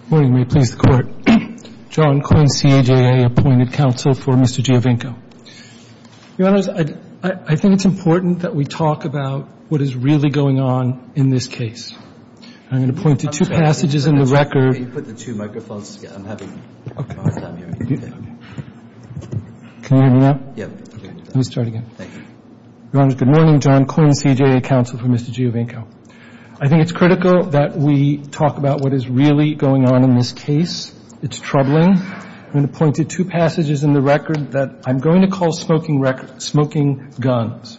Good morning. May it please the Court. John Quinn, CJA, appointed counsel for Mr. Giovinco. Your Honor, I think it's important that we talk about what is really going on in this case. I'm going to point to two passages in the record. Can you put the two microphones down here? Can you hear me now? Yes. Let me start again. Thank you. Your Honor, good morning. John Quinn, CJA, counsel for Mr. Giovinco. I think it's critical that we talk about what is really going on in this case. It's troubling. I'm going to point to two passages in the record that I'm going to call smoking guns.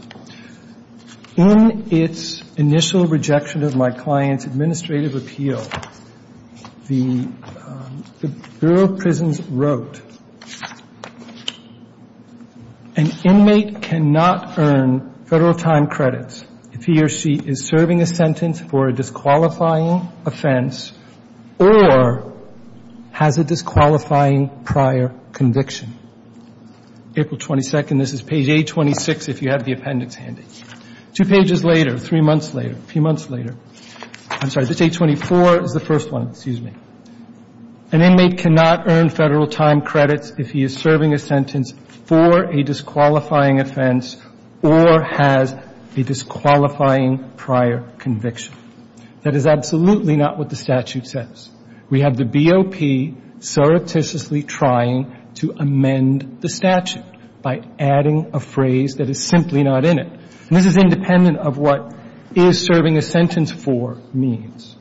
In its initial rejection of my client's administrative appeal, the Bureau of Prisons wrote, an inmate cannot earn Federal time credits if he or she is serving a sentence for a disqualifying offense or has a disqualifying prior conviction. April 22nd, this is page 826, if you have the appendix handy. Two pages later, three months later, a few months later, I'm sorry, this 824 is the first one, excuse me. An inmate cannot earn Federal time credits if he is serving a sentence for a disqualifying offense or has a disqualifying prior conviction. That is absolutely not what the statute says. We have the BOP surreptitiously trying to amend the statute by adding a phrase that is simply not in it. And this is independent of what is serving a sentence for means.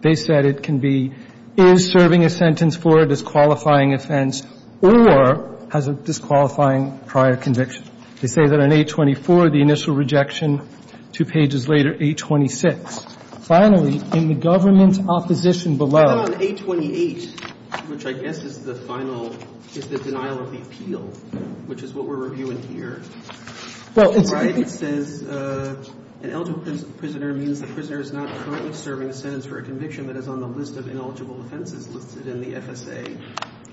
They said it can be is serving a sentence for a disqualifying offense or has a disqualifying prior conviction. They say that on 824, the initial rejection, two pages later, 826. Finally, in the government's opposition below. And then on 828, which I guess is the final, is the denial of the appeal, which is what we're reviewing here. It says an eligible prisoner means the prisoner is not currently serving a sentence for a conviction that is on the list of ineligible offenses listed in the FSA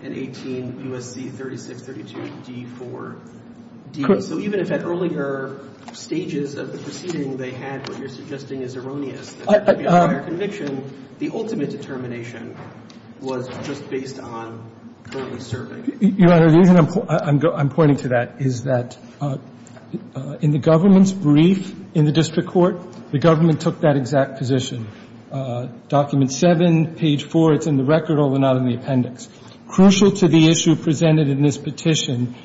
in 18 U.S.C. 3632d4d. So even if at earlier stages of the proceeding they had what you're suggesting is erroneous, the prior conviction, the ultimate determination was just based on currently serving. Your Honor, the reason I'm pointing to that is that in the government's brief in the district court, the government took that exact position. Document 7, page 4, it's in the record, although not in the appendix. Crucial to the issue presented in this petition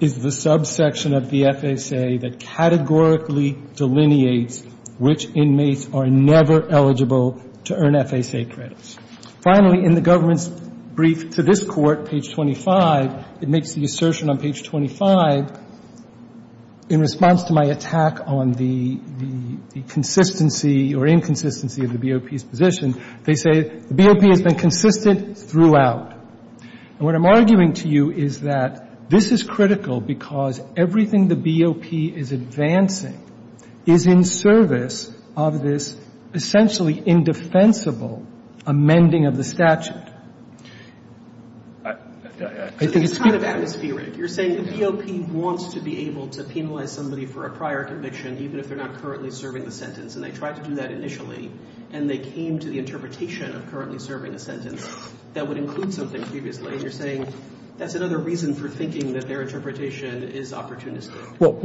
is the subsection of the FSA that categorically delineates which inmates are never eligible to earn FSA credits. Finally, in the government's brief to this Court, page 25, it makes the assertion on page 25 in response to my attack on the consistency or inconsistency of the BOP's position, they say the BOP has been consistent throughout. And what I'm arguing to you is that this is critical because everything the BOP is advancing is in service of this essentially indefensible amending of the statute. I think it's clear. It's kind of atmospheric. You're saying the BOP wants to be able to penalize somebody for a prior conviction even if they're not currently serving the sentence. And they tried to do that initially, and they came to the interpretation of currently serving a sentence that would include something previously. And you're saying that's another reason for thinking that their interpretation is opportunistic. But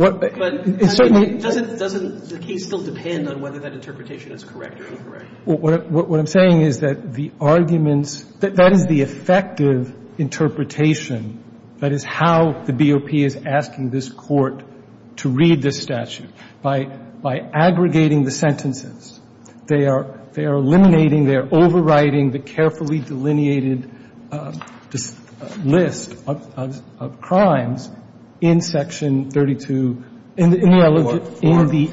doesn't the case still depend on whether that interpretation is correct or incorrect? What I'm saying is that the arguments, that is the effective interpretation, that is how the BOP is asking this Court to read this statute. By aggregating the sentences, they are eliminating, they are overriding the carefully delineated list of crimes in Section 32 in the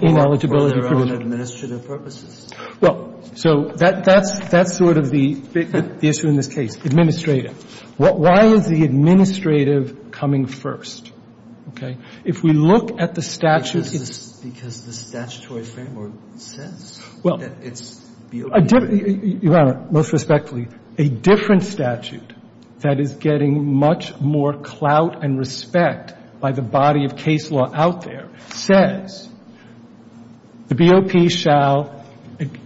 ineligibility provision. For their own administrative purposes? Well, so that's sort of the issue in this case. Administrative. Why is the administrative coming first? Okay? If we look at the statute, it's — Because the statutory framework says that it's — Your Honor, most respectfully, a different statute that is getting much more clout and respect by the body of case law out there says the BOP shall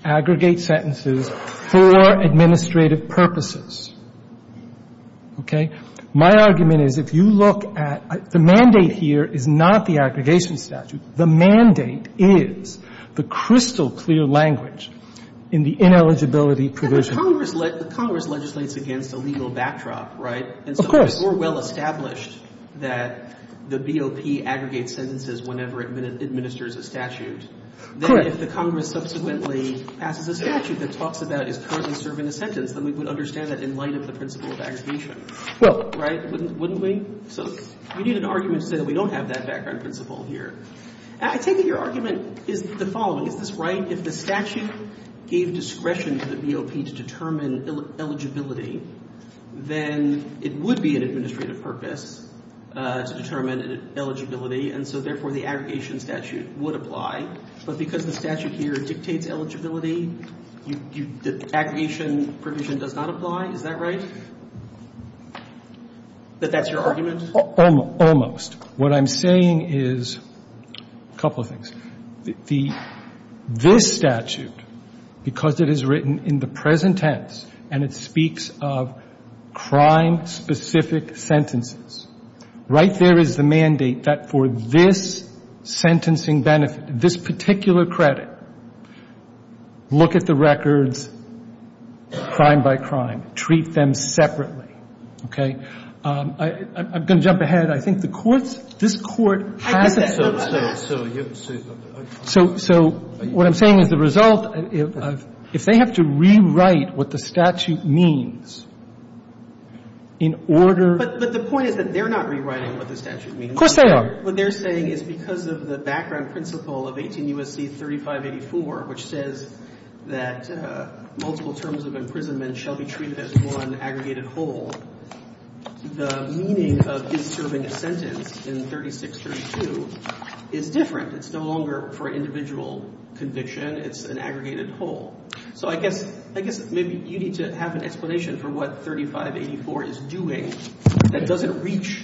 aggregate sentences for administrative purposes. Okay? My argument is if you look at — the mandate here is not the aggregation statute. The mandate is the crystal clear language in the ineligibility provision. Congress legislates against a legal backdrop, right? Of course. And so it's more well established that the BOP aggregates sentences whenever it administers a statute. Correct. Then if the Congress subsequently passes a statute that talks about is currently serving a sentence, then we would understand that in light of the principle of aggregation. Well — Right? Wouldn't we? So you need an argument to say that we don't have that background principle here. I take it your argument is the following. Is this right? If the statute gave discretion to the BOP to determine eligibility, then it would be an administrative purpose to determine eligibility, and so therefore the aggregation statute would apply. But because the statute here dictates eligibility, aggregation provision does not apply. Is that right? That that's your argument? Almost. What I'm saying is a couple of things. The — this statute, because it is written in the present tense and it speaks of crime-specific sentences, right there is the mandate that for this sentencing benefit, this particular credit, look at the records crime by crime, treat them separately, okay? I'm going to jump ahead. I think the courts — this Court has a — I guess that's what I'm saying. So you're — So what I'm saying is the result, if they have to rewrite what the statute means in order — But the point is that they're not rewriting what the statute means. Of course they are. What they're saying is because of the background principle of 18 U.S.C. 3584, which says that multiple terms of imprisonment shall be treated as one aggregated whole, the meaning of his serving a sentence in 3632 is different. It's no longer for individual conviction. It's an aggregated whole. So I guess — I guess maybe you need to have an explanation for what 3584 is doing that doesn't reach,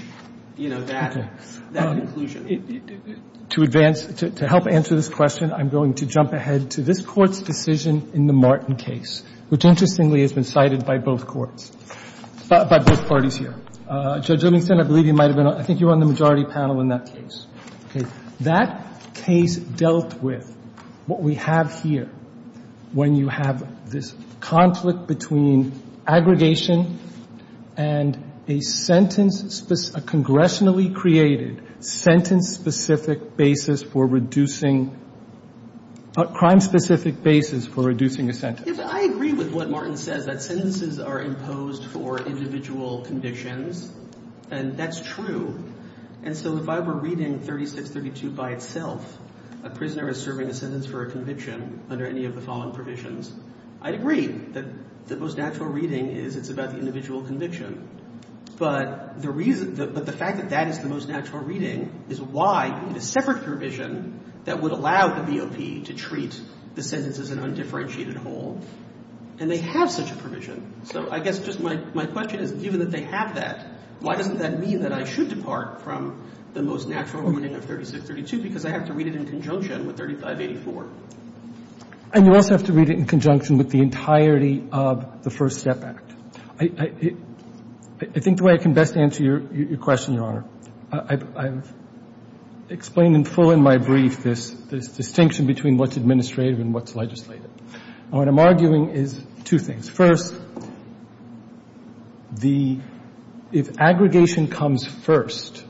you know, that — that conclusion. To advance — to help answer this question, I'm going to jump ahead to this Court's decision in the Martin case, which interestingly has been cited by both courts, by both parties here. Judge Livingston, I believe you might have been on — I think you were on the majority panel in that case. Okay. That case dealt with what we have here when you have this conflict between aggregation and a sentence — a congressionally created sentence-specific basis for reducing — a crime-specific basis for reducing a sentence. I agree with what Martin says, that sentences are imposed for individual convictions, and that's true. And so if I were reading 3632 by itself, a prisoner is serving a sentence for a conviction under any of the following provisions, I'd agree that the most natural reading is it's about the individual conviction. But the reason — but the fact that that is the most natural reading is why you need a separate provision that would allow the BOP to treat the sentence as an undifferentiated whole. And they have such a provision. So I guess just my — my question is, given that they have that, why doesn't that mean that I should depart from the most natural reading of 3632? Because I have to read it in conjunction with 3584. And you also have to read it in conjunction with the entirety of the First Step Act. I — I think the way I can best answer your question, Your Honor, I've explained in full in my brief this — this distinction between what's administrative and what's legislative. And what I'm arguing is two things. First, the — if aggregation comes first,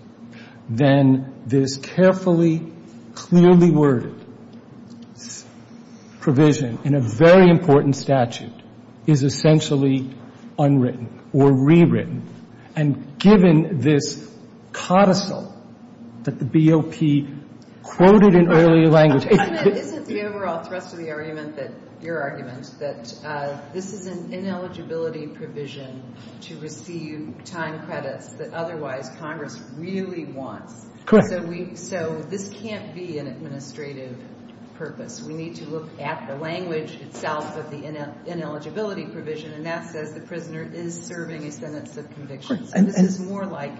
then there's carefully, clearly worded provision in a very important statute is essentially unwritten or rewritten. And given this codicil that the BOP quoted in early language — Isn't it — isn't the overall thrust of the argument that — your argument that this is an ineligibility provision to receive time credits that otherwise Congress really wants? Correct. So we — so this can't be an administrative purpose. We need to look at the language itself of the ineligibility provision. And that says the prisoner is serving a sentence of conviction. Correct. And this is more like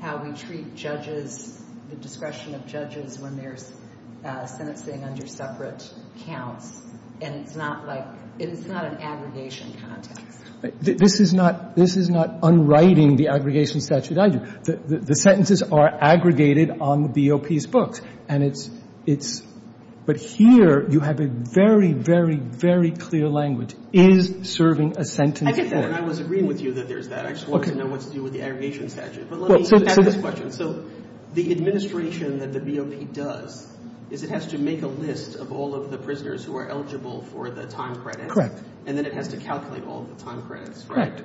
how we treat judges, the discretion of judges when there's a sentence sitting under separate counts. And it's not like — it's not an aggregation context. This is not — this is not unwriting the aggregation statute. The sentences are aggregated on the BOP's books. And it's — but here you have a very, very, very clear language. Is serving a sentence — I get that. And I was agreeing with you that there's that. I just wanted to know what to do with the aggregation statute. But let me answer this question. So the administration that the BOP does is it has to make a list of all of the prisoners who are eligible for the time credits. Correct. And then it has to calculate all of the time credits, right? Correct.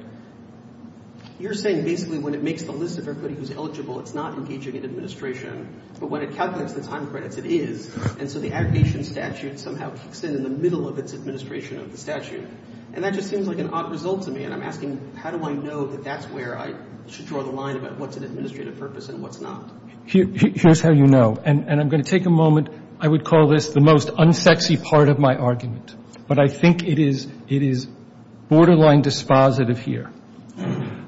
You're saying basically when it makes the list of everybody who's eligible, it's not engaging in administration. But when it calculates the time credits, it is. And so the aggregation statute somehow kicks in in the middle of its administration of the statute. And that just seems like an odd result to me. And I'm asking how do I know that that's where I should draw the line about what's an administrative purpose and what's not? Here's how you know. And I'm going to take a moment. I would call this the most unsexy part of my argument. But I think it is borderline dispositive here.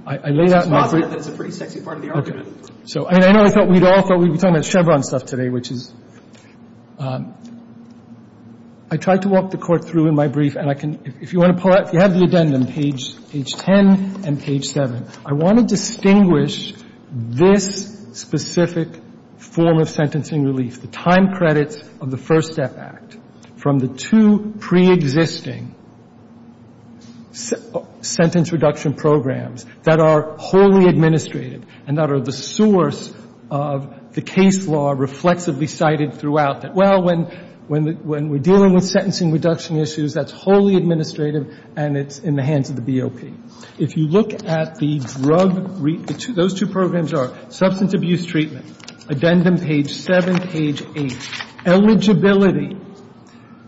I lay that out in my brief. It's dispositive, but it's a pretty sexy part of the argument. Okay. So, I mean, I know I thought we'd all thought we'd be talking about Chevron stuff today, which is. I tried to walk the Court through in my brief. And I can, if you want to pull out, you have the addendum, page 10 and page 7. I want to distinguish this specific form of sentencing relief, the time credits of the First Step Act, from the two preexisting sentence reduction programs that are wholly administrative and that are the source of the case law reflexively cited throughout that. Well, when we're dealing with sentencing reduction issues, that's wholly administrative and it's in the hands of the BOP. If you look at the drug, those two programs are substance abuse treatment, addendum 10, page 7, page 8. Eligibility.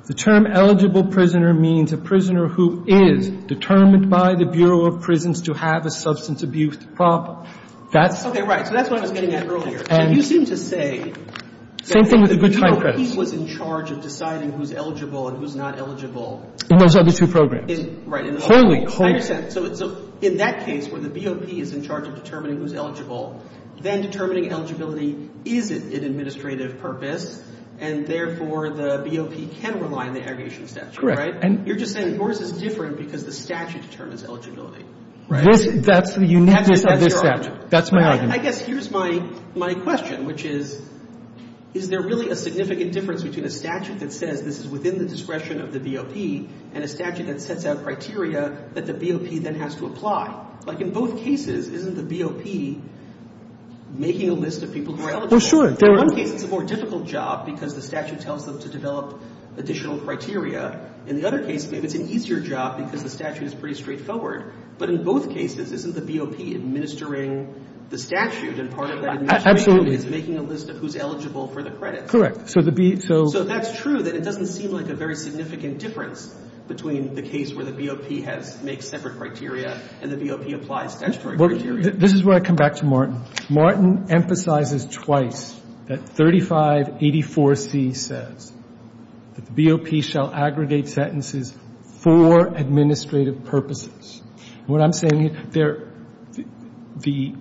The term eligible prisoner means a prisoner who is determined by the Bureau of Prisons to have a substance abuse problem. That's. Okay. Right. So that's what I was getting at earlier. And you seem to say. Same thing with the good time credits. That the BOP was in charge of deciding who's eligible and who's not eligible. In those other two programs. Right. In the other programs. I understand. So in that case where the BOP is in charge of determining who's eligible, then determining eligibility isn't an administrative purpose, and therefore the BOP can rely on the aggregation statute. Correct. Right? And you're just saying yours is different because the statute determines eligibility. That's the uniqueness of this statute. That's your argument. That's my argument. I guess here's my question, which is, is there really a significant difference between a statute that says this is within the discretion of the BOP and a statute that sets out criteria that the BOP then has to apply? Like, in both cases, isn't the BOP making a list of people who are eligible? Oh, sure. In one case, it's a more difficult job because the statute tells them to develop additional criteria. In the other case, maybe it's an easier job because the statute is pretty straightforward. But in both cases, isn't the BOP administering the statute and part of that administration is making a list of who's eligible for the credits? Correct. So the B, so. So that's true that it doesn't seem like a very significant difference between the BOP applies statutory criteria. This is where I come back to Martin. Martin emphasizes twice that 3584C says that the BOP shall aggregate sentences for administrative purposes. What I'm saying, there, the,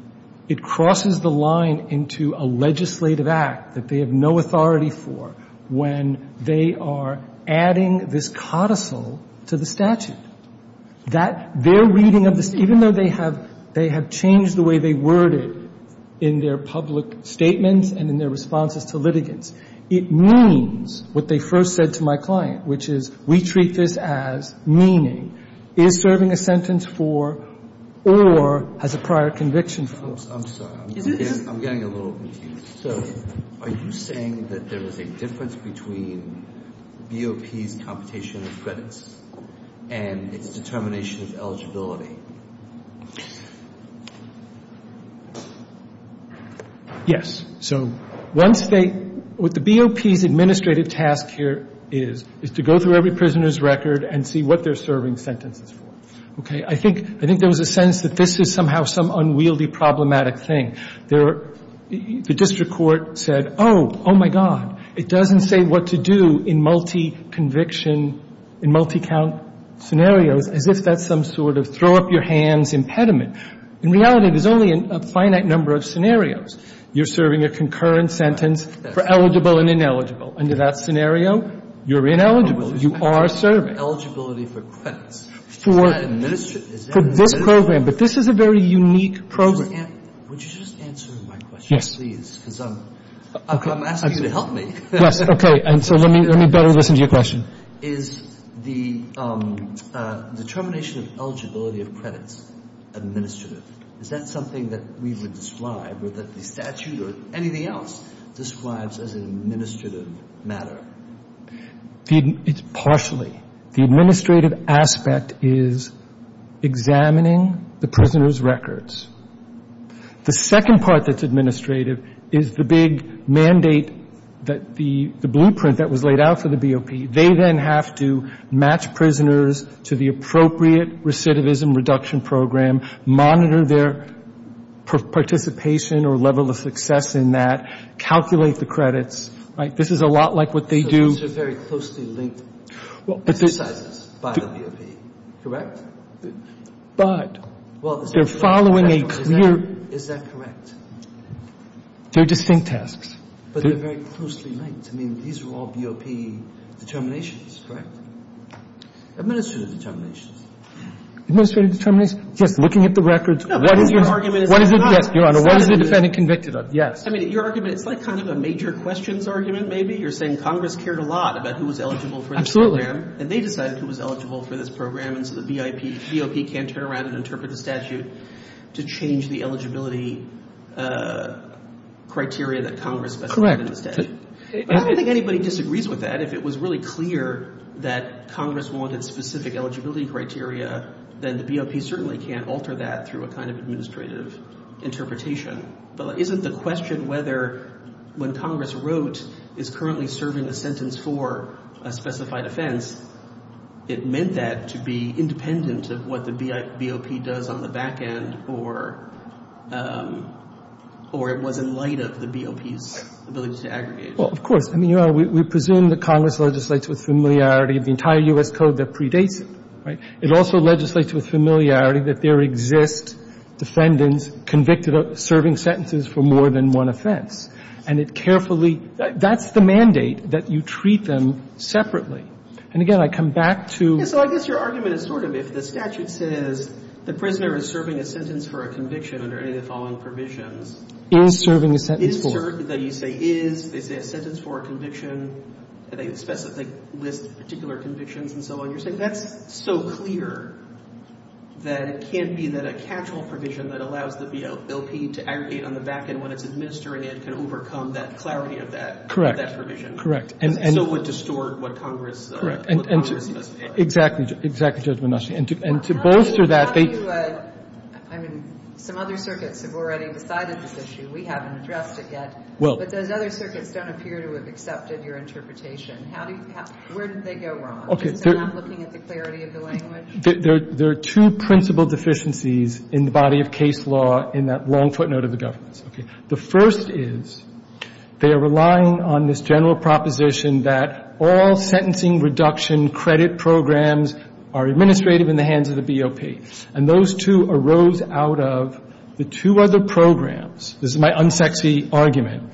it crosses the line into a legislative act that they have no authority for when they are adding this codicil to the statute. That, their reading of this, even though they have, they have changed the way they word it in their public statements and in their responses to litigants, it means what they first said to my client, which is we treat this as meaning, is serving a sentence for or has a prior conviction for. I'm sorry. I'm getting a little confused. So are you saying that there is a difference between BOP's computation of credits and its determination of eligibility? Yes. So once they, what the BOP's administrative task here is, is to go through every prisoner's record and see what they're serving sentences for. Okay. I think, I think there was a sense that this is somehow some unwieldy problematic thing. There, the district court said, oh, oh my God, it doesn't say what to do in multi-conviction, in multi-count scenarios, as if that's some sort of throw-up-your-hands impediment. In reality, there's only a finite number of scenarios. You're serving a concurrent sentence for eligible and ineligible. Under that scenario, you're ineligible. You are serving. Eligibility for credits. For this program. But this is a very unique program. Would you just answer my question, please? Yes. Because I'm asking you to help me. Yes, okay. And so let me better listen to your question. Is the determination of eligibility of credits administrative? Is that something that we would describe or that the statute or anything else describes as an administrative matter? It's partially. The administrative aspect is examining the prisoner's records. The second part that's administrative is the big mandate, the blueprint that was laid out for the BOP. They then have to match prisoners to the appropriate recidivism reduction program, monitor their participation or level of success in that, calculate the credits. This is a lot like what they do. These are very closely linked exercises by the BOP, correct? But. They're following a clear. Is that correct? They're distinct tasks. But they're very closely linked. I mean, these are all BOP determinations, correct? Administrative determinations. Administrative determinations? Yes. Looking at the records. What is your argument? Your Honor, what is the defendant convicted of? Yes. I mean, your argument, it's like kind of a major questions argument maybe. You're saying Congress cared a lot about who was eligible for this program. Absolutely. And they decided who was eligible for this program. And so the BOP can't turn around and interpret the statute to change the eligibility criteria that Congress specified in the statute. Correct. I don't think anybody disagrees with that. If it was really clear that Congress wanted specific eligibility criteria, then the BOP certainly can't alter that through a kind of administrative interpretation. But isn't the question whether when Congress wrote is currently serving a sentence for a specified offense, it meant that to be independent of what the BOP does on the back end or it was in light of the BOP's ability to aggregate? Well, of course. I mean, your Honor, we presume that Congress legislates with familiarity the entire U.S. Code that predates it, right? It also legislates with familiarity that there exist defendants convicted of serving sentences for more than one offense. And it carefully — that's the mandate, that you treat them separately. And again, I come back to — Yeah. So I guess your argument is sort of if the statute says the prisoner is serving a sentence for a conviction under any of the following provisions — Is serving a sentence for — Is serving — you say is. They say a sentence for a conviction. They list particular convictions and so on. You're saying that's so clear that it can't be that a casual provision that allows the BOP to aggregate on the back end when it's administering it can overcome that clarity of that — Correct. — of that provision. Correct. And — So it would distort what Congress — Correct. — what Congress must do. Exactly. Exactly, Judge Monashi. And to bolster that, they — How do you — I mean, some other circuits have already decided this issue. We haven't addressed it yet. Well — But those other circuits don't appear to have accepted your interpretation. How do you — where did they go wrong? Is it not looking at the clarity of the language? There are two principal deficiencies in the body of case law in that long footnote of the governance. Okay. The first is they are relying on this general proposition that all sentencing reduction credit programs are administrative in the hands of the BOP. And those two arose out of the two other programs. This is my unsexy argument.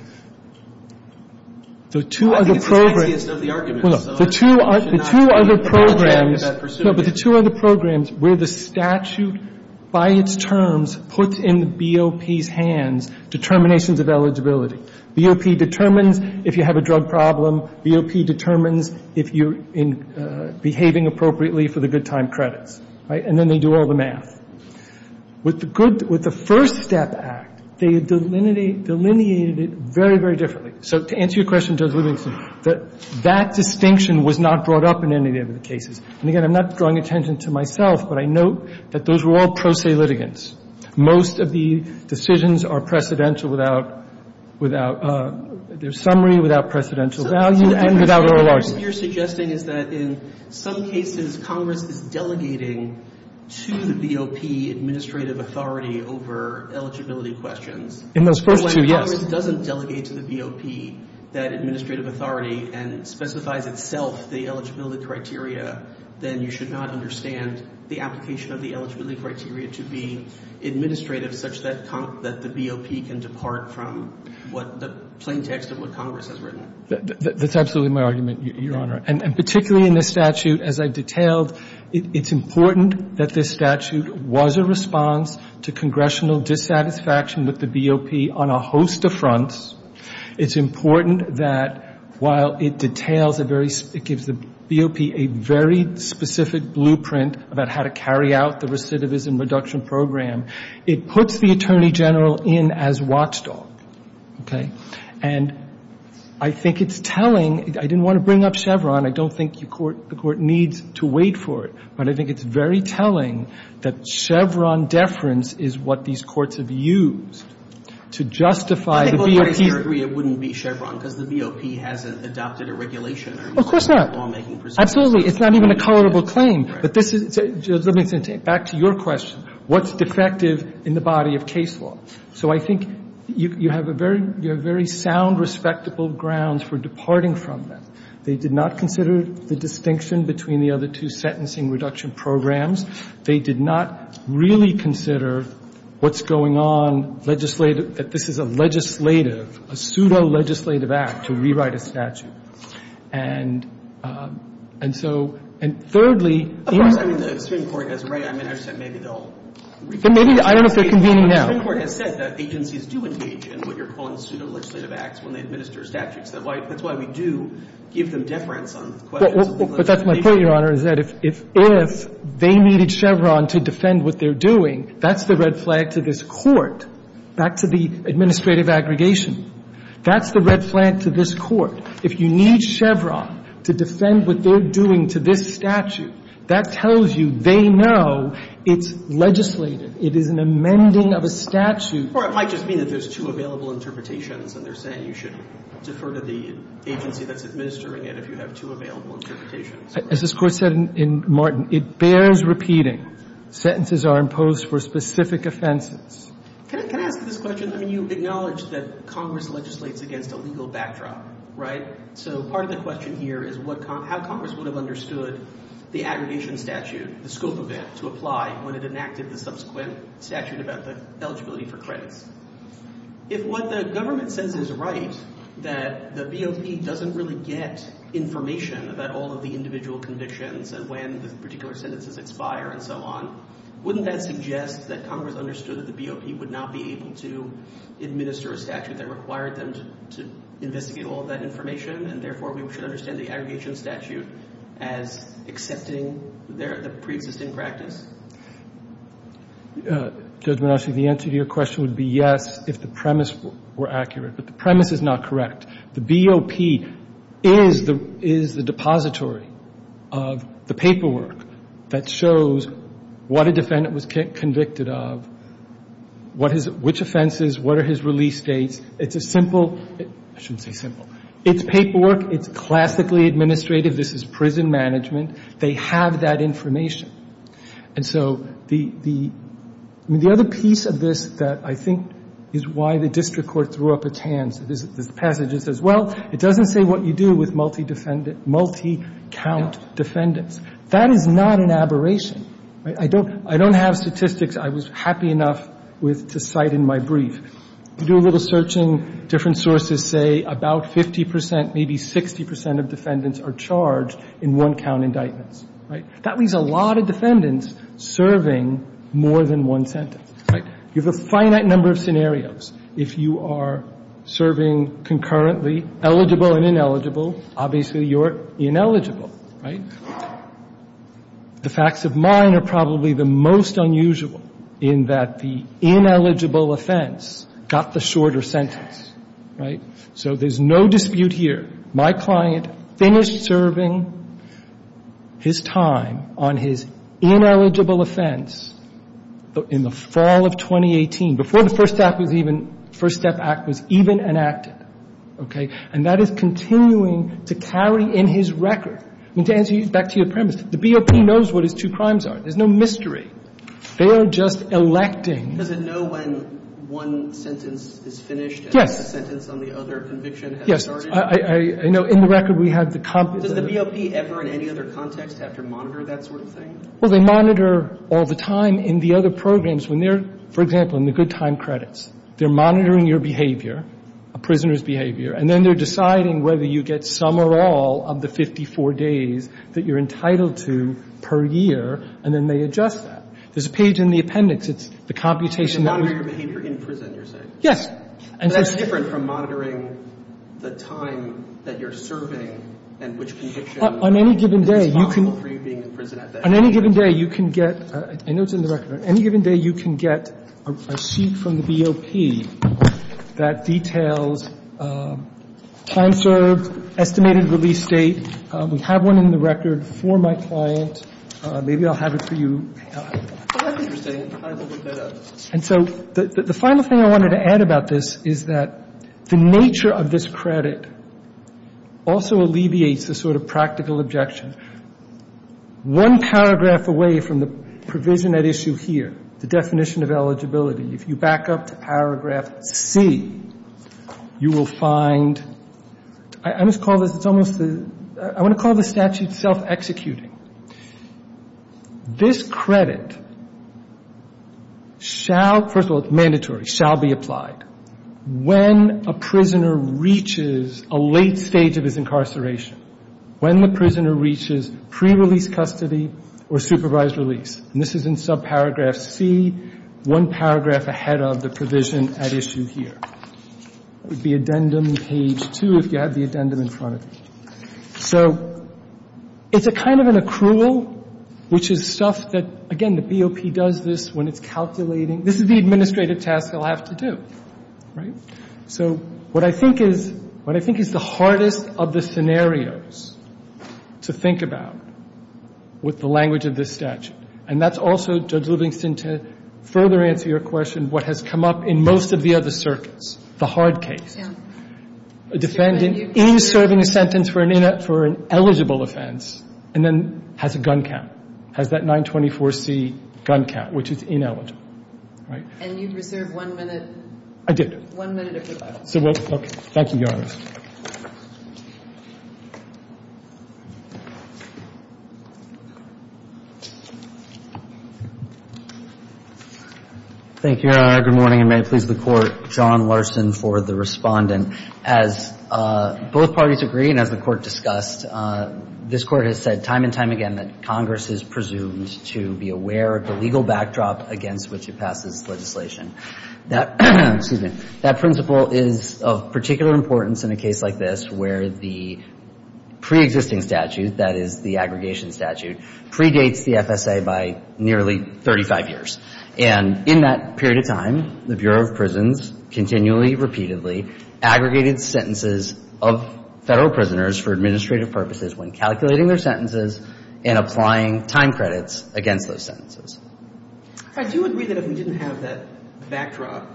The two other programs — I think it's the sexiest of the arguments. Well, no. The two other programs — The two other programs were the statute by its terms puts in the BOP's hands determinations of eligibility. BOP determines if you have a drug problem. BOP determines if you're behaving appropriately for the good time credits. Right? And then they do all the math. With the good — with the First Step Act, they delineated it very, very differently. So to answer your question, Judge Livingston, that distinction was not brought up in any of the other cases. And again, I'm not drawing attention to myself, but I note that those were all pro se litigants. Most of the decisions are precedential without — without their summary, without precedential value, and without oral argument. So what you're suggesting is that in some cases, Congress is delegating to the BOP administrative authority over eligibility questions. In those first two, yes. If Congress doesn't delegate to the BOP that administrative authority and specifies itself the eligibility criteria, then you should not understand the application of the eligibility criteria to be administrative such that the BOP can depart from what — the plain text of what Congress has written. That's absolutely my argument, Your Honor. And particularly in this statute, as I've detailed, it's important that this statute was a response to congressional dissatisfaction with the BOP on a host of fronts. It's important that while it details a very — it gives the BOP a very specific blueprint about how to carry out the recidivism reduction program, it puts the Attorney General in as watchdog. Okay? And I think it's telling — I didn't want to bring up Chevron. I don't think the Court needs to wait for it. But I think it's very telling that Chevron deference is what these courts have used to justify the BOP — I think most parties would agree it wouldn't be Chevron because the BOP hasn't adopted a regulation or lawmaking procedure. Of course not. Absolutely. It's not even a colorable claim. But this is — let me get back to your question. What's defective in the body of case law? So I think you have a very — you have very sound, respectable grounds for departing from them. I just don't think of it as being defective. It came before a long history of fraudulent crackdowns and fraudulent litigation. They did not consider the distinction between the other two sentencing reduction programs. They did not really consider what's going on, legislative, that this is a legislative, a pseudo-legislative act to rewrite a statute. And so – and thirdly – Of course. I mean, the Supreme Court has a right. I mean, I understand maybe they'll – Maybe – I don't know if they're convening now. The Supreme Court has said that agencies do engage in what you're calling pseudo-legislative acts when they administer statutes. That's why we do give them deference on questions of litigation. The Supreme Court, Your Honor, has said if they needed Chevron to defend what they're doing, that's the red flag to this Court, back to the administrative aggregation. That's the red flag to this Court. If you need Chevron to defend what they're doing to this statute, that tells you they know it's legislative. It is an amending of a statute. Or it might just mean that there's two available interpretations and they're saying you should defer to the agency that's administering it if you have two available interpretations. As this Court said in Martin, it bears repeating. Sentences are imposed for specific offenses. Can I ask this question? I mean, you acknowledge that Congress legislates against a legal backdrop, right? So part of the question here is what – how Congress would have understood the aggregation statute, the scope of it, to apply when it enacted the subsequent statute about the eligibility for credits. If what the government says is right, that the BOP doesn't really get information about all of the individual convictions and when the particular sentences expire and so on, wouldn't that suggest that Congress understood that the BOP would not be able to administer a statute that required them to investigate all of that information and therefore we should understand the aggregation statute as accepting the preexisting practice? Judge Monacci, the answer to your question would be yes if the premise were accurate. But the premise is not correct. The BOP is the depository of the paperwork that shows what a defendant was convicted of, what his – which offenses, what are his release dates. It's a simple – I shouldn't say simple. It's paperwork. It's classically administrative. This is prison management. They have that information. And so the – I mean, the other piece of this that I think is why the district court threw up its hands is the passage that says, well, it doesn't say what you do with multi-count defendants. That is not an aberration. I don't have statistics I was happy enough with to cite in my brief. You do a little searching, different sources say about 50 percent, maybe 60 percent of defendants are charged in one-count indictments, right? That leaves a lot of defendants serving more than one sentence, right? You have a finite number of scenarios. If you are serving concurrently, eligible and ineligible, obviously you're ineligible, right? The facts of mine are probably the most unusual in that the ineligible offense got the shorter sentence, right? So there's no dispute here. My client finished serving his time on his ineligible offense in the fall of 2018, before the First Act was even – the First Step Act was even enacted, okay? And that is continuing to carry in his record. I mean, to answer your – back to your premise, the BOP knows what his two crimes are. There's no mystery. They are just electing. Does it know when one sentence is finished and the sentence on the other conviction has started? Yes. I know in the record we have the – Does the BOP ever in any other context have to monitor that sort of thing? Well, they monitor all the time in the other programs when they're – for example, in the good time credits. They're monitoring your behavior, a prisoner's behavior, and then they're deciding whether you get some or all of the 54 days that you're entitled to per year, and then they adjust that. There's a page in the appendix. It's the computation. They monitor your behavior in prison, you're saying? Yes. But that's different from monitoring the time that you're serving and which conviction is possible for you being in prison at that time. On any given day, you can get – I know it's in the record. On any given day, you can get a sheet from the BOP that details time served, estimated release date. We have one in the record for my client. Maybe I'll have it for you. I think you're saying it's time to look that up. And so the final thing I wanted to add about this is that the nature of this credit also alleviates the sort of practical objection. One paragraph away from the provision at issue here, the definition of eligibility, if you back up to paragraph C, you will find – I must call this – it's almost – I want to call this statute self-executing. This credit shall – first of all, it's mandatory – shall be applied when a prisoner reaches a late stage of his incarceration, when the prisoner reaches pre-release custody or supervised release. And this is in subparagraph C, one paragraph ahead of the provision at issue here. It would be addendum page 2 if you have the addendum in front of you. So it's a kind of an accrual, which is stuff that, again, the BOP does this when it's calculating. This is the administrative task they'll have to do, right? So what I think is – what I think is the hardest of the scenarios to think about with the language of this statute, and that's also, Judge Livingston, to further answer your question, what has come up in most of the other circuits, the hard case. The hard case is that the defendant is serving a sentence for an ineligible offense and then has a gun count, has that 924C gun count, which is ineligible. Right? And you reserved one minute? I did. One minute of your time. So we'll – okay. Thank you, Your Honor. Thank you, Your Honor. Good morning, and may it please the Court. John Larson for the Respondent. As both parties agree and as the Court discussed, this Court has said time and time again that Congress is presumed to be aware of the legal backdrop against which it passes legislation. That – excuse me – that principle is of particular importance in a case like this where the preexisting statute, that is, the aggregation statute, predates the FSA by nearly 35 years. And in that period of time, the Bureau of Prisons continually, repeatedly aggregated sentences of Federal prisoners for administrative purposes when calculating their sentences and applying time credits against those sentences. I do agree that if we didn't have that backdrop,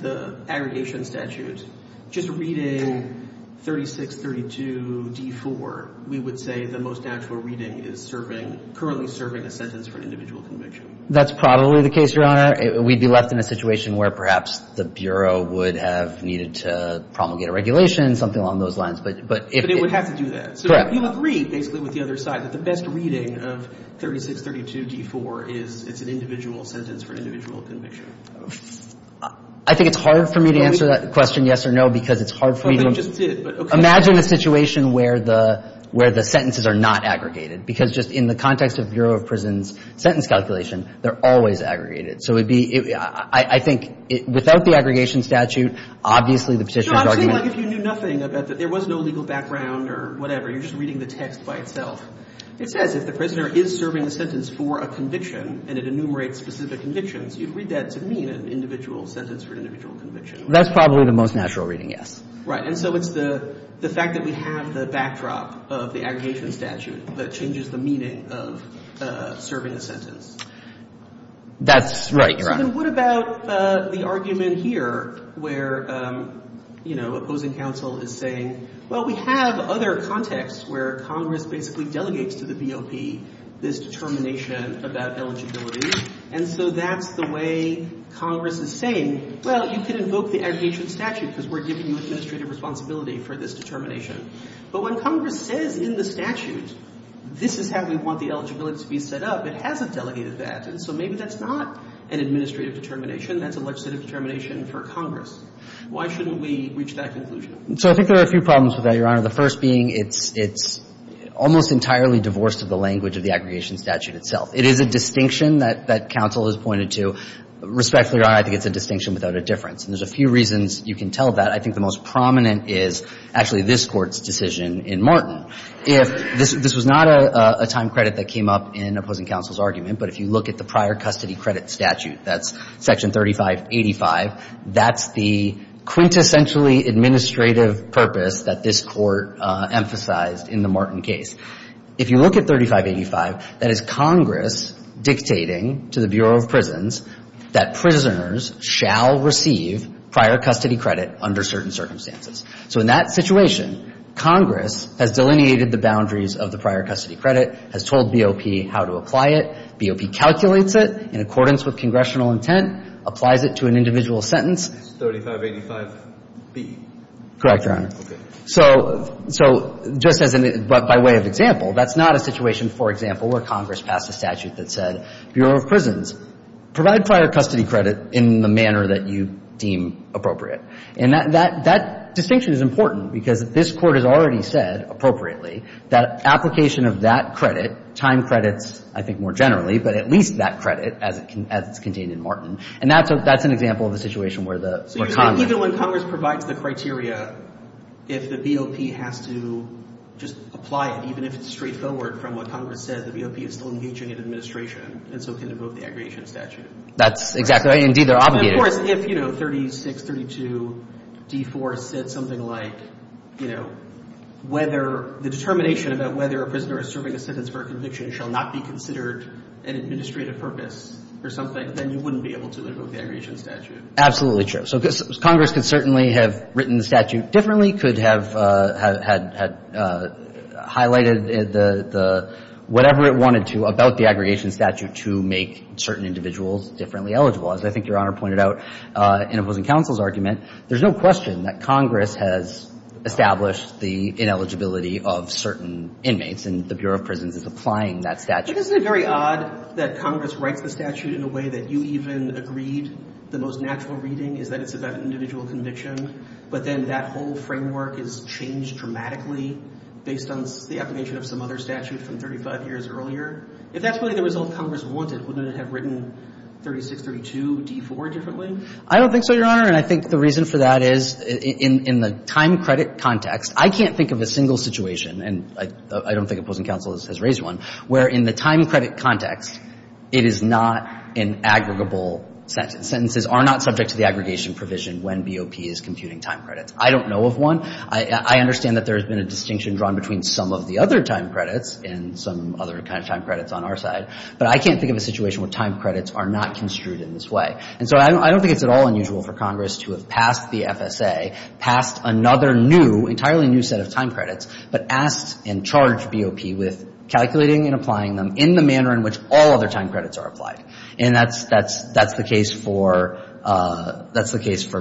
the aggregation statute, just reading 3632D4, we would say the most natural reading is serving – currently serving a sentence for an individual conviction. That's probably the case, Your Honor. We'd be left in a situation where perhaps the Bureau would have needed to promulgate a regulation, something along those lines. But if it – But it would have to do that. Correct. You agree, basically, with the other side, that the best reading of 3632D4 is – it's an individual sentence for an individual conviction. I think it's hard for me to answer that question, yes or no, because it's hard for me to – Well, they just did, but okay. Imagine a situation where the – where the sentences are not aggregated. Because just in the context of Bureau of Prisons' sentence calculation, they're always aggregated. So it would be – I think without the aggregation statute, obviously the petitioner would argue that – No, I'm saying like if you knew nothing about – there was no legal background or whatever. You're just reading the text by itself. It says if the prisoner is serving a sentence for a conviction and it enumerates specific convictions, you'd read that to mean an individual sentence for an individual conviction. That's probably the most natural reading, yes. Right. And so it's the fact that we have the backdrop of the aggregation statute that changes the meaning of serving a sentence. That's right, Your Honor. And what about the argument here where, you know, opposing counsel is saying, well, we have other contexts where Congress basically delegates to the BOP this determination about eligibility. And so that's the way Congress is saying, well, you can invoke the aggregation statute because we're giving you administrative responsibility for this determination. But when Congress says in the statute, this is how we want the eligibility to be set up, it hasn't delegated that. And so maybe that's not an administrative determination. That's a legislative determination for Congress. Why shouldn't we reach that conclusion? So I think there are a few problems with that, Your Honor. The first being it's almost entirely divorced of the language of the aggregation statute itself. It is a distinction that counsel has pointed to. Respectfully, Your Honor, I think it's a distinction without a difference. And there's a few reasons you can tell that. I think the most prominent is actually this Court's decision in Martin. If this was not a time credit that came up in opposing counsel's argument, but if you look at the prior custody credit statute, that's Section 3585, that's the quintessentially administrative purpose that this Court emphasized in the Martin case. If you look at 3585, that is Congress dictating to the Bureau of Prisons that prisoners shall receive prior custody credit under certain circumstances. So in that situation, Congress has delineated the boundaries of the prior custody credit, has told BOP how to apply it, BOP calculates it in accordance with congressional intent, applies it to an individual sentence. It's 3585B? Correct, Your Honor. Okay. So just as an — by way of example, that's not a situation, for example, where Congress passed a statute that said, Bureau of Prisons, provide prior custody credit in the manner that you deem appropriate. And that distinction is important because this Court has already said, appropriately, that application of that credit, time credits, I think, more generally, but at least that credit as it's contained in Martin. And that's an example of a situation where the — So you're saying even when Congress provides the criteria, if the BOP has to just apply it, even if it's straightforward from what Congress said, the BOP is still engaging in administration, and so can invoke the aggregation statute? That's exactly right. Indeed, they're obligated. Of course, if, you know, 3632D4 said something like, you know, whether — the determination about whether a prisoner is serving a sentence for a conviction shall not be considered an administrative purpose or something, then you wouldn't be able to invoke the aggregation statute. Absolutely true. So Congress could certainly have written the statute differently, could have highlighted the — whatever it wanted to about the aggregation statute to make certain individuals differently eligible. As I think Your Honor pointed out in opposing counsel's argument, there's no question that Congress has established the ineligibility of certain inmates, and the Bureau of Prisons is applying that statute. But isn't it very odd that Congress writes the statute in a way that you even agreed the most natural reading is that it's about an individual conviction, but then that whole framework is changed dramatically based on the application of some other statute from 35 years earlier? If that's really the result Congress wanted, wouldn't it have written 3632D4 differently? I don't think so, Your Honor. And I think the reason for that is in the time credit context, I can't think of a single situation — and I don't think opposing counsel has raised one — where in the time credit context, it is not an aggregable sentence. Sentences are not subject to the aggregation provision when BOP is computing time credits. I don't know of one. I understand that there has been a distinction drawn between some of the other time credits and some other kind of time credits on our side. But I can't think of a situation where time credits are not construed in this way. And so I don't think it's at all unusual for Congress to have passed the FSA, passed another new, entirely new set of time credits, but asked and charged BOP with calculating and applying them in the manner in which all other time credits are applied. And that's the case for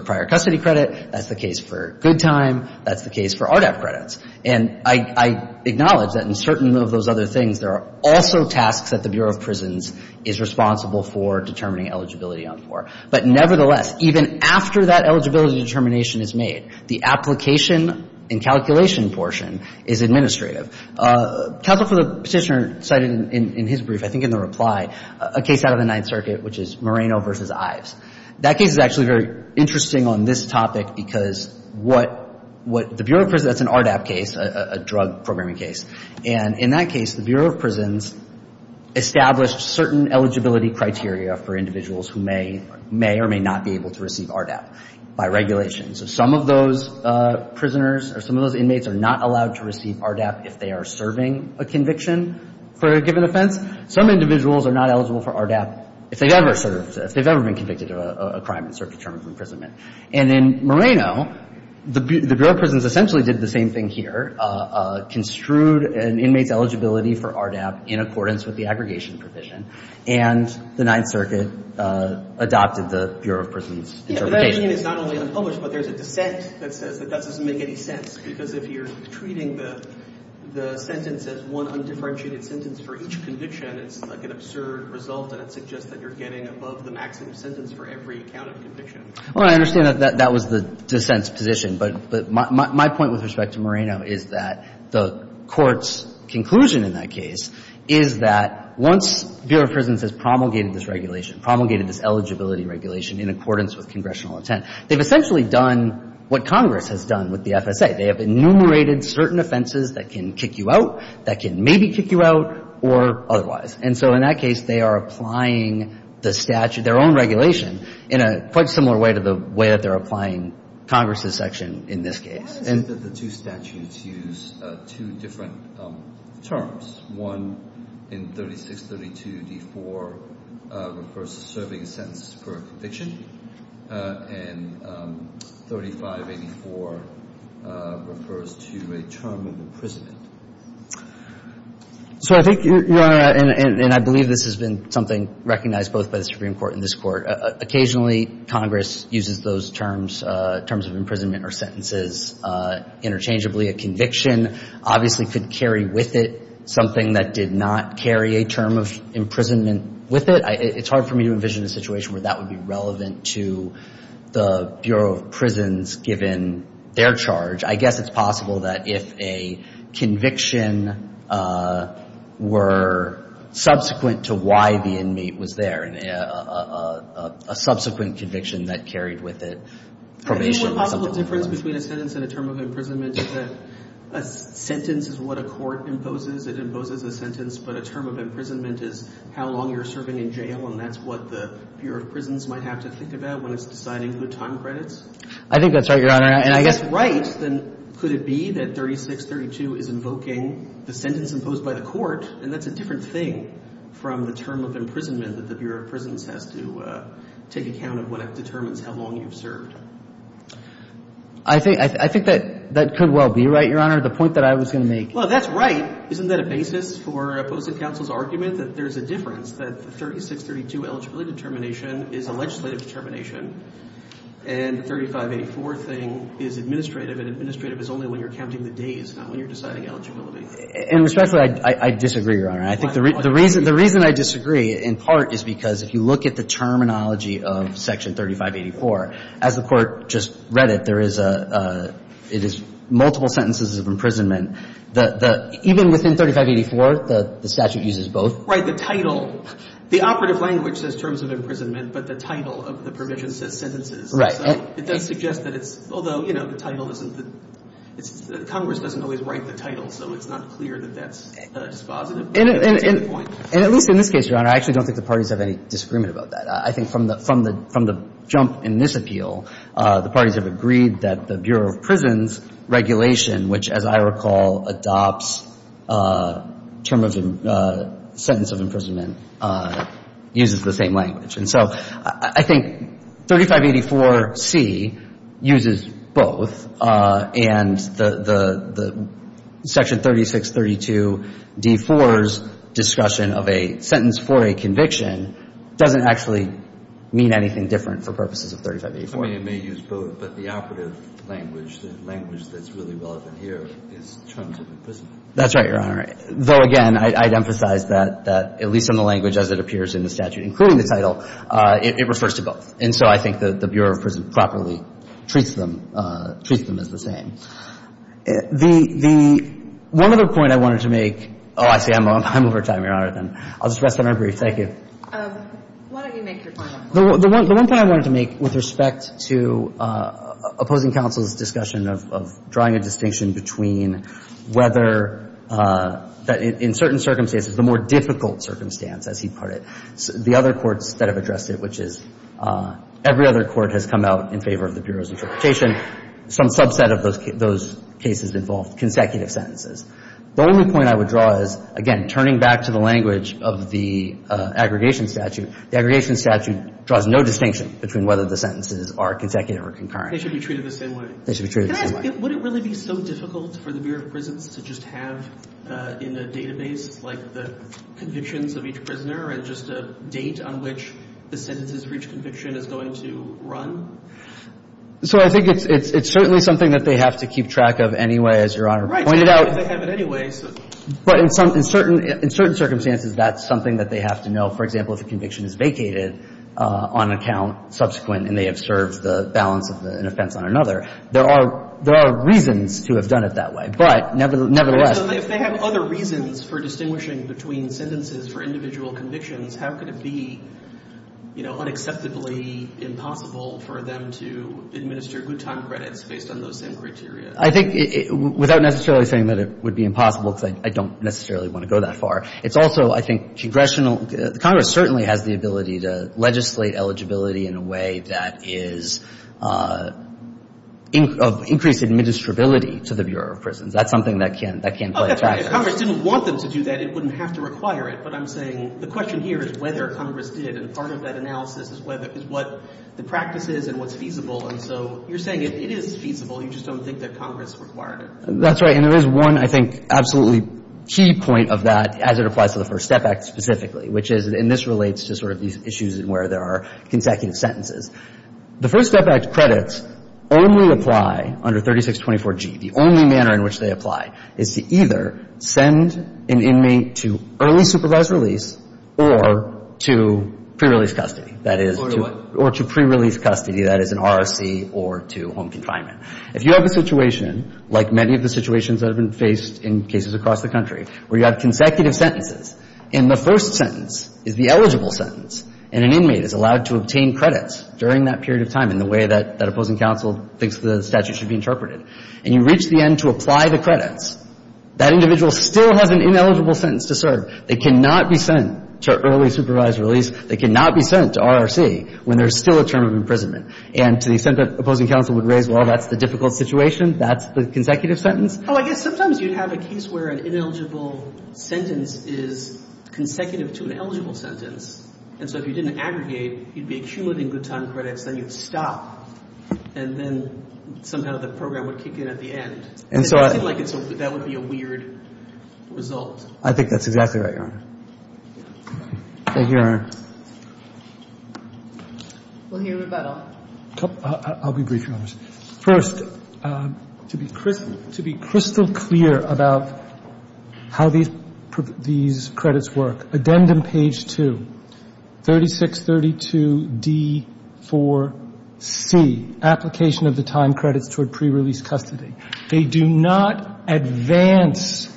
prior custody credit. That's the case for good time. That's the case for RDAP credits. And I acknowledge that in certain of those other things, there are also tasks that the Bureau of Prisons is responsible for determining eligibility on for. But nevertheless, even after that eligibility determination is made, the application and calculation portion is administrative. Counsel for the Petitioner cited in his brief, I think in the reply, a case out of the Ninth Circuit, which is Moreno v. Ives. That case is actually very interesting on this topic because what the Bureau of Prisons does, that's an RDAP case, a drug programming case. And in that case, the Bureau of Prisons established certain eligibility criteria for individuals who may or may not be able to receive RDAP by regulation. So some of those prisoners or some of those inmates are not allowed to receive RDAP if they are serving a conviction for a given offense. Some individuals are not eligible for RDAP if they've ever served, if they've ever been convicted of a crime in circuit terms of imprisonment. And in Moreno, the Bureau of Prisons essentially did the same thing here, construed an inmate's eligibility for RDAP in accordance with the aggregation provision. And the Ninth Circuit adopted the Bureau of Prisons' interpretation. It's not only unpublished, but there's a dissent that says that doesn't make any sense because if you're treating the sentence as one undifferentiated sentence for each conviction, it's like an absurd result and it suggests that you're getting above the maximum sentence for every count of conviction. Well, I understand that that was the dissent's position, but my point with respect to Moreno is that the Court's conclusion in that case is that once Bureau of Prisons has promulgated this regulation, promulgated this eligibility regulation in accordance with congressional intent, they've essentially done what Congress has done with the FSA. They have enumerated certain offenses that can kick you out, that can maybe kick you out, or otherwise. And so in that case, they are applying the statute, their own regulation, in a quite similar way to the way that they're applying Congress's section in this case. Why is it that the two statutes use two different terms? One in 3632d4 refers to serving a sentence per conviction, and 3584 refers to a term of imprisonment. So I think, Your Honor, and I believe this has been something recognized both by the Supreme Court and this Court. Occasionally, Congress uses those terms, terms of imprisonment or sentences interchangeably. A conviction obviously could carry with it something that did not carry a term of imprisonment with it. It's hard for me to envision a situation where that would be relevant to the Bureau of Prisons given their charge. I guess it's possible that if a conviction were subsequent to why the inmate was there, a subsequent conviction that carried with it probation or something like that. I mean, what possible difference between a sentence and a term of imprisonment is that a sentence is what a court imposes. It imposes a sentence. But a term of imprisonment is how long you're serving in jail, and that's what the Bureau of Prisons might have to think about when it's deciding good time credits. I think that's right, Your Honor. And I guess right, then, could it be that 3632 is invoking the sentence imposed by the court, and that's a different thing from the term of imprisonment that the Bureau of Prisons has to take account of when it determines how long you've served? I think that could well be right, Your Honor. The point that I was going to make. Well, that's right. Isn't that a basis for opposing counsel's argument that there's a difference, that the 3632 eligibility determination is a legislative determination and the 3584 thing is administrative, and administrative is only when you're counting the days, not when you're deciding eligibility? And respectfully, I disagree, Your Honor. I think the reason I disagree, in part, is because if you look at the terminology of Section 3584, as the Court just read it, there is a – it is multiple sentences of imprisonment. Even within 3584, the statute uses both. Right. The title – the operative language says terms of imprisonment, but the title of the provision says sentences. Right. It does suggest that it's – although, you know, the title isn't – Congress doesn't always write the title, so it's not clear that that's dispositive. And at least in this case, Your Honor, I actually don't think the parties have any disagreement about that. I think from the – from the jump in this appeal, the parties have agreed that the Bureau of Prisons regulation, which, as I recall, adopts term of – sentence of imprisonment, uses the same language. And so I think 3584c uses both, and the – the Section 3632d4's discussion of a sentence for a conviction doesn't actually mean anything different for purposes of 3584. I mean, it may use both, but the operative language, the language that's really relevant here is terms of imprisonment. That's right, Your Honor. Though, again, I'd emphasize that at least in the language as it appears in the statute, including the title, it refers to both. And so I think that the Bureau of Prisons properly treats them – treats them as the same. The – the – one other point I wanted to make – oh, I see. I'm over time, Your Honor, then. I'll just rest on my brief. Thank you. Why don't you make your point? The one – the one point I wanted to make with respect to opposing counsel's discussion of – of drawing a distinction between whether – in certain circumstances, the more difficult circumstance, as he put it. The other courts that have addressed it, which is – every other court has come out in favor of the Bureau's interpretation. Some subset of those cases involved consecutive sentences. The only point I would draw is, again, turning back to the language of the aggregation statute, the aggregation statute draws no distinction between whether the sentences are consecutive or concurrent. They should be treated the same way. They should be treated the same way. Can I ask, would it really be so difficult for the Bureau of Prisons to just have in a database like the convictions of each prisoner and just a date on which the sentences for each conviction is going to run? So I think it's – it's certainly something that they have to keep track of anyway, as Your Honor pointed out. Right. If they have it anyway. But in some – in certain – in certain circumstances, that's something that they have to know. For example, if a conviction is vacated on account subsequent and they have served the balance of an offense on another, there are – there are reasons to have done it that way. But nevertheless – So if they have other reasons for distinguishing between sentences for individual convictions, how could it be, you know, unacceptably impossible for them to administer good time credits based on those same criteria? I think – without necessarily saying that it would be impossible, because I don't necessarily want to go that far. It's also, I think, congressional – Congress certainly has the ability to legislate to the Bureau of Prisons. That's something that can – that can play a factor. Okay. If Congress didn't want them to do that, it wouldn't have to require it. But I'm saying the question here is whether Congress did. And part of that analysis is whether – is what the practice is and what's feasible. And so you're saying if it is feasible, you just don't think that Congress required it. That's right. And there is one, I think, absolutely key point of that as it applies to the First Step Act specifically, which is – and this relates to sort of these issues where there are consecutive sentences. The First Step Act credits only apply under 3624G. The only manner in which they apply is to either send an inmate to early supervised release or to pre-release custody. That is to – Or to what? Or to pre-release custody. That is, an ROC or to home confinement. If you have a situation, like many of the situations that have been faced in cases across the country, where you have consecutive sentences, and the first sentence is the eligible sentence, and an inmate is allowed to obtain credits during that period of time in the way that that opposing counsel thinks the statute should be interpreted, and you reach the end to apply the credits, that individual still has an ineligible sentence to serve. They cannot be sent to early supervised release. They cannot be sent to ROC when there's still a term of imprisonment. And to the extent that opposing counsel would raise, well, that's the difficult situation, that's the consecutive sentence. Oh, I guess sometimes you'd have a case where an ineligible sentence is consecutive to an eligible sentence. And so if you didn't aggregate, you'd be accumulating good time credits, then you'd stop, and then somehow the program would kick in at the end. And so I think like it's – that would be a weird result. I think that's exactly right, Your Honor. Thank you, Your Honor. I'll be brief, Your Honor. First, to be crystal clear about how these credits work, addendum page 2, 3632D4C, application of the time credits toward prerelease custody. They do not advance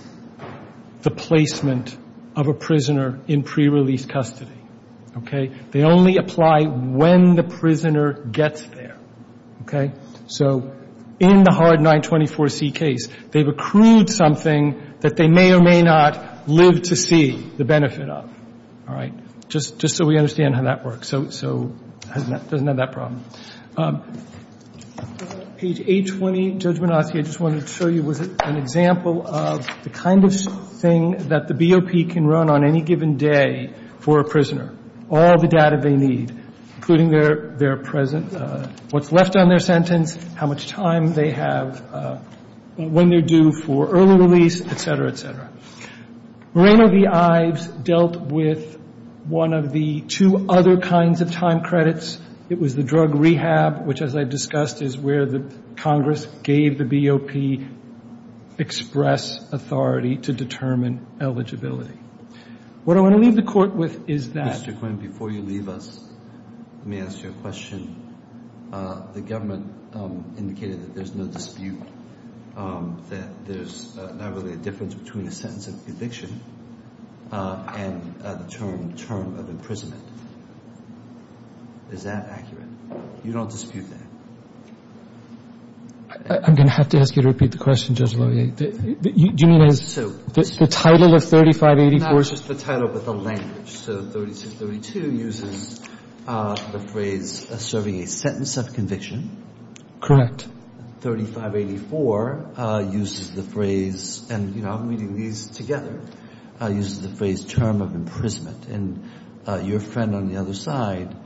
the placement of a prisoner in prerelease custody, okay? They only apply when the prisoner gets there, okay? So in the hard 924C case, they've accrued something that they may or may not live to see the benefit of, all right? Just so we understand how that works. So it doesn't have that problem. Page 820, Judge Minoski, I just wanted to show you was an example of the kind of thing that the BOP can run on any given day for a prisoner, all the data they need, including their present, what's left on their sentence, how much time they have, when they're due for early release, et cetera, et cetera. Moreno v. Ives dealt with one of the two other kinds of time credits. It was the drug rehab, which, as I discussed, is where the Congress gave the BOP express authority to determine eligibility. What I want to leave the Court with is that. Mr. Quinn, before you leave us, let me ask you a question. The government indicated that there's no dispute, that there's not really a difference between a sentence of eviction and the term of imprisonment. Is that accurate? You don't dispute that? I'm going to have to ask you to repeat the question, Judge Loewy. Do you mean the title of 3584? It's not just the title but the language. So 3632 uses the phrase serving a sentence of conviction. Correct. 3584 uses the phrase, and I'm reading these together, uses the phrase term of imprisonment. And your friend on the other side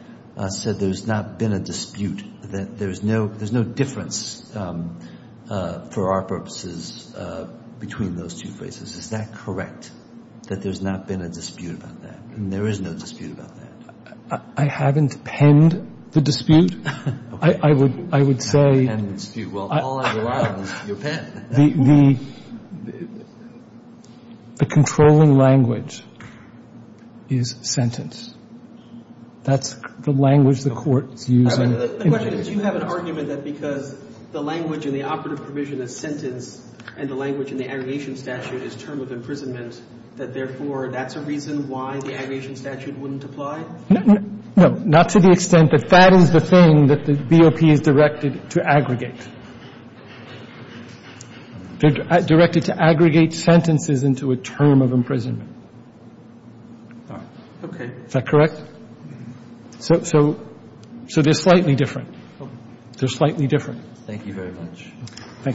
said there's not been a dispute, that there's no difference for our purposes between those two phrases. Is that correct? That there's not been a dispute about that, and there is no dispute about that. I haven't penned the dispute. I would say the controlling language is sentence. That's the language the Court is using. The question is, do you have an argument that because the language in the operative and the language in the aggregation statute is term of imprisonment, that therefore that's a reason why the aggregation statute wouldn't apply? No. Not to the extent that that is the thing that the BOP is directed to aggregate. They're directed to aggregate sentences into a term of imprisonment. Okay. Is that correct? So they're slightly different. They're slightly different. Thank you very much. Thank you.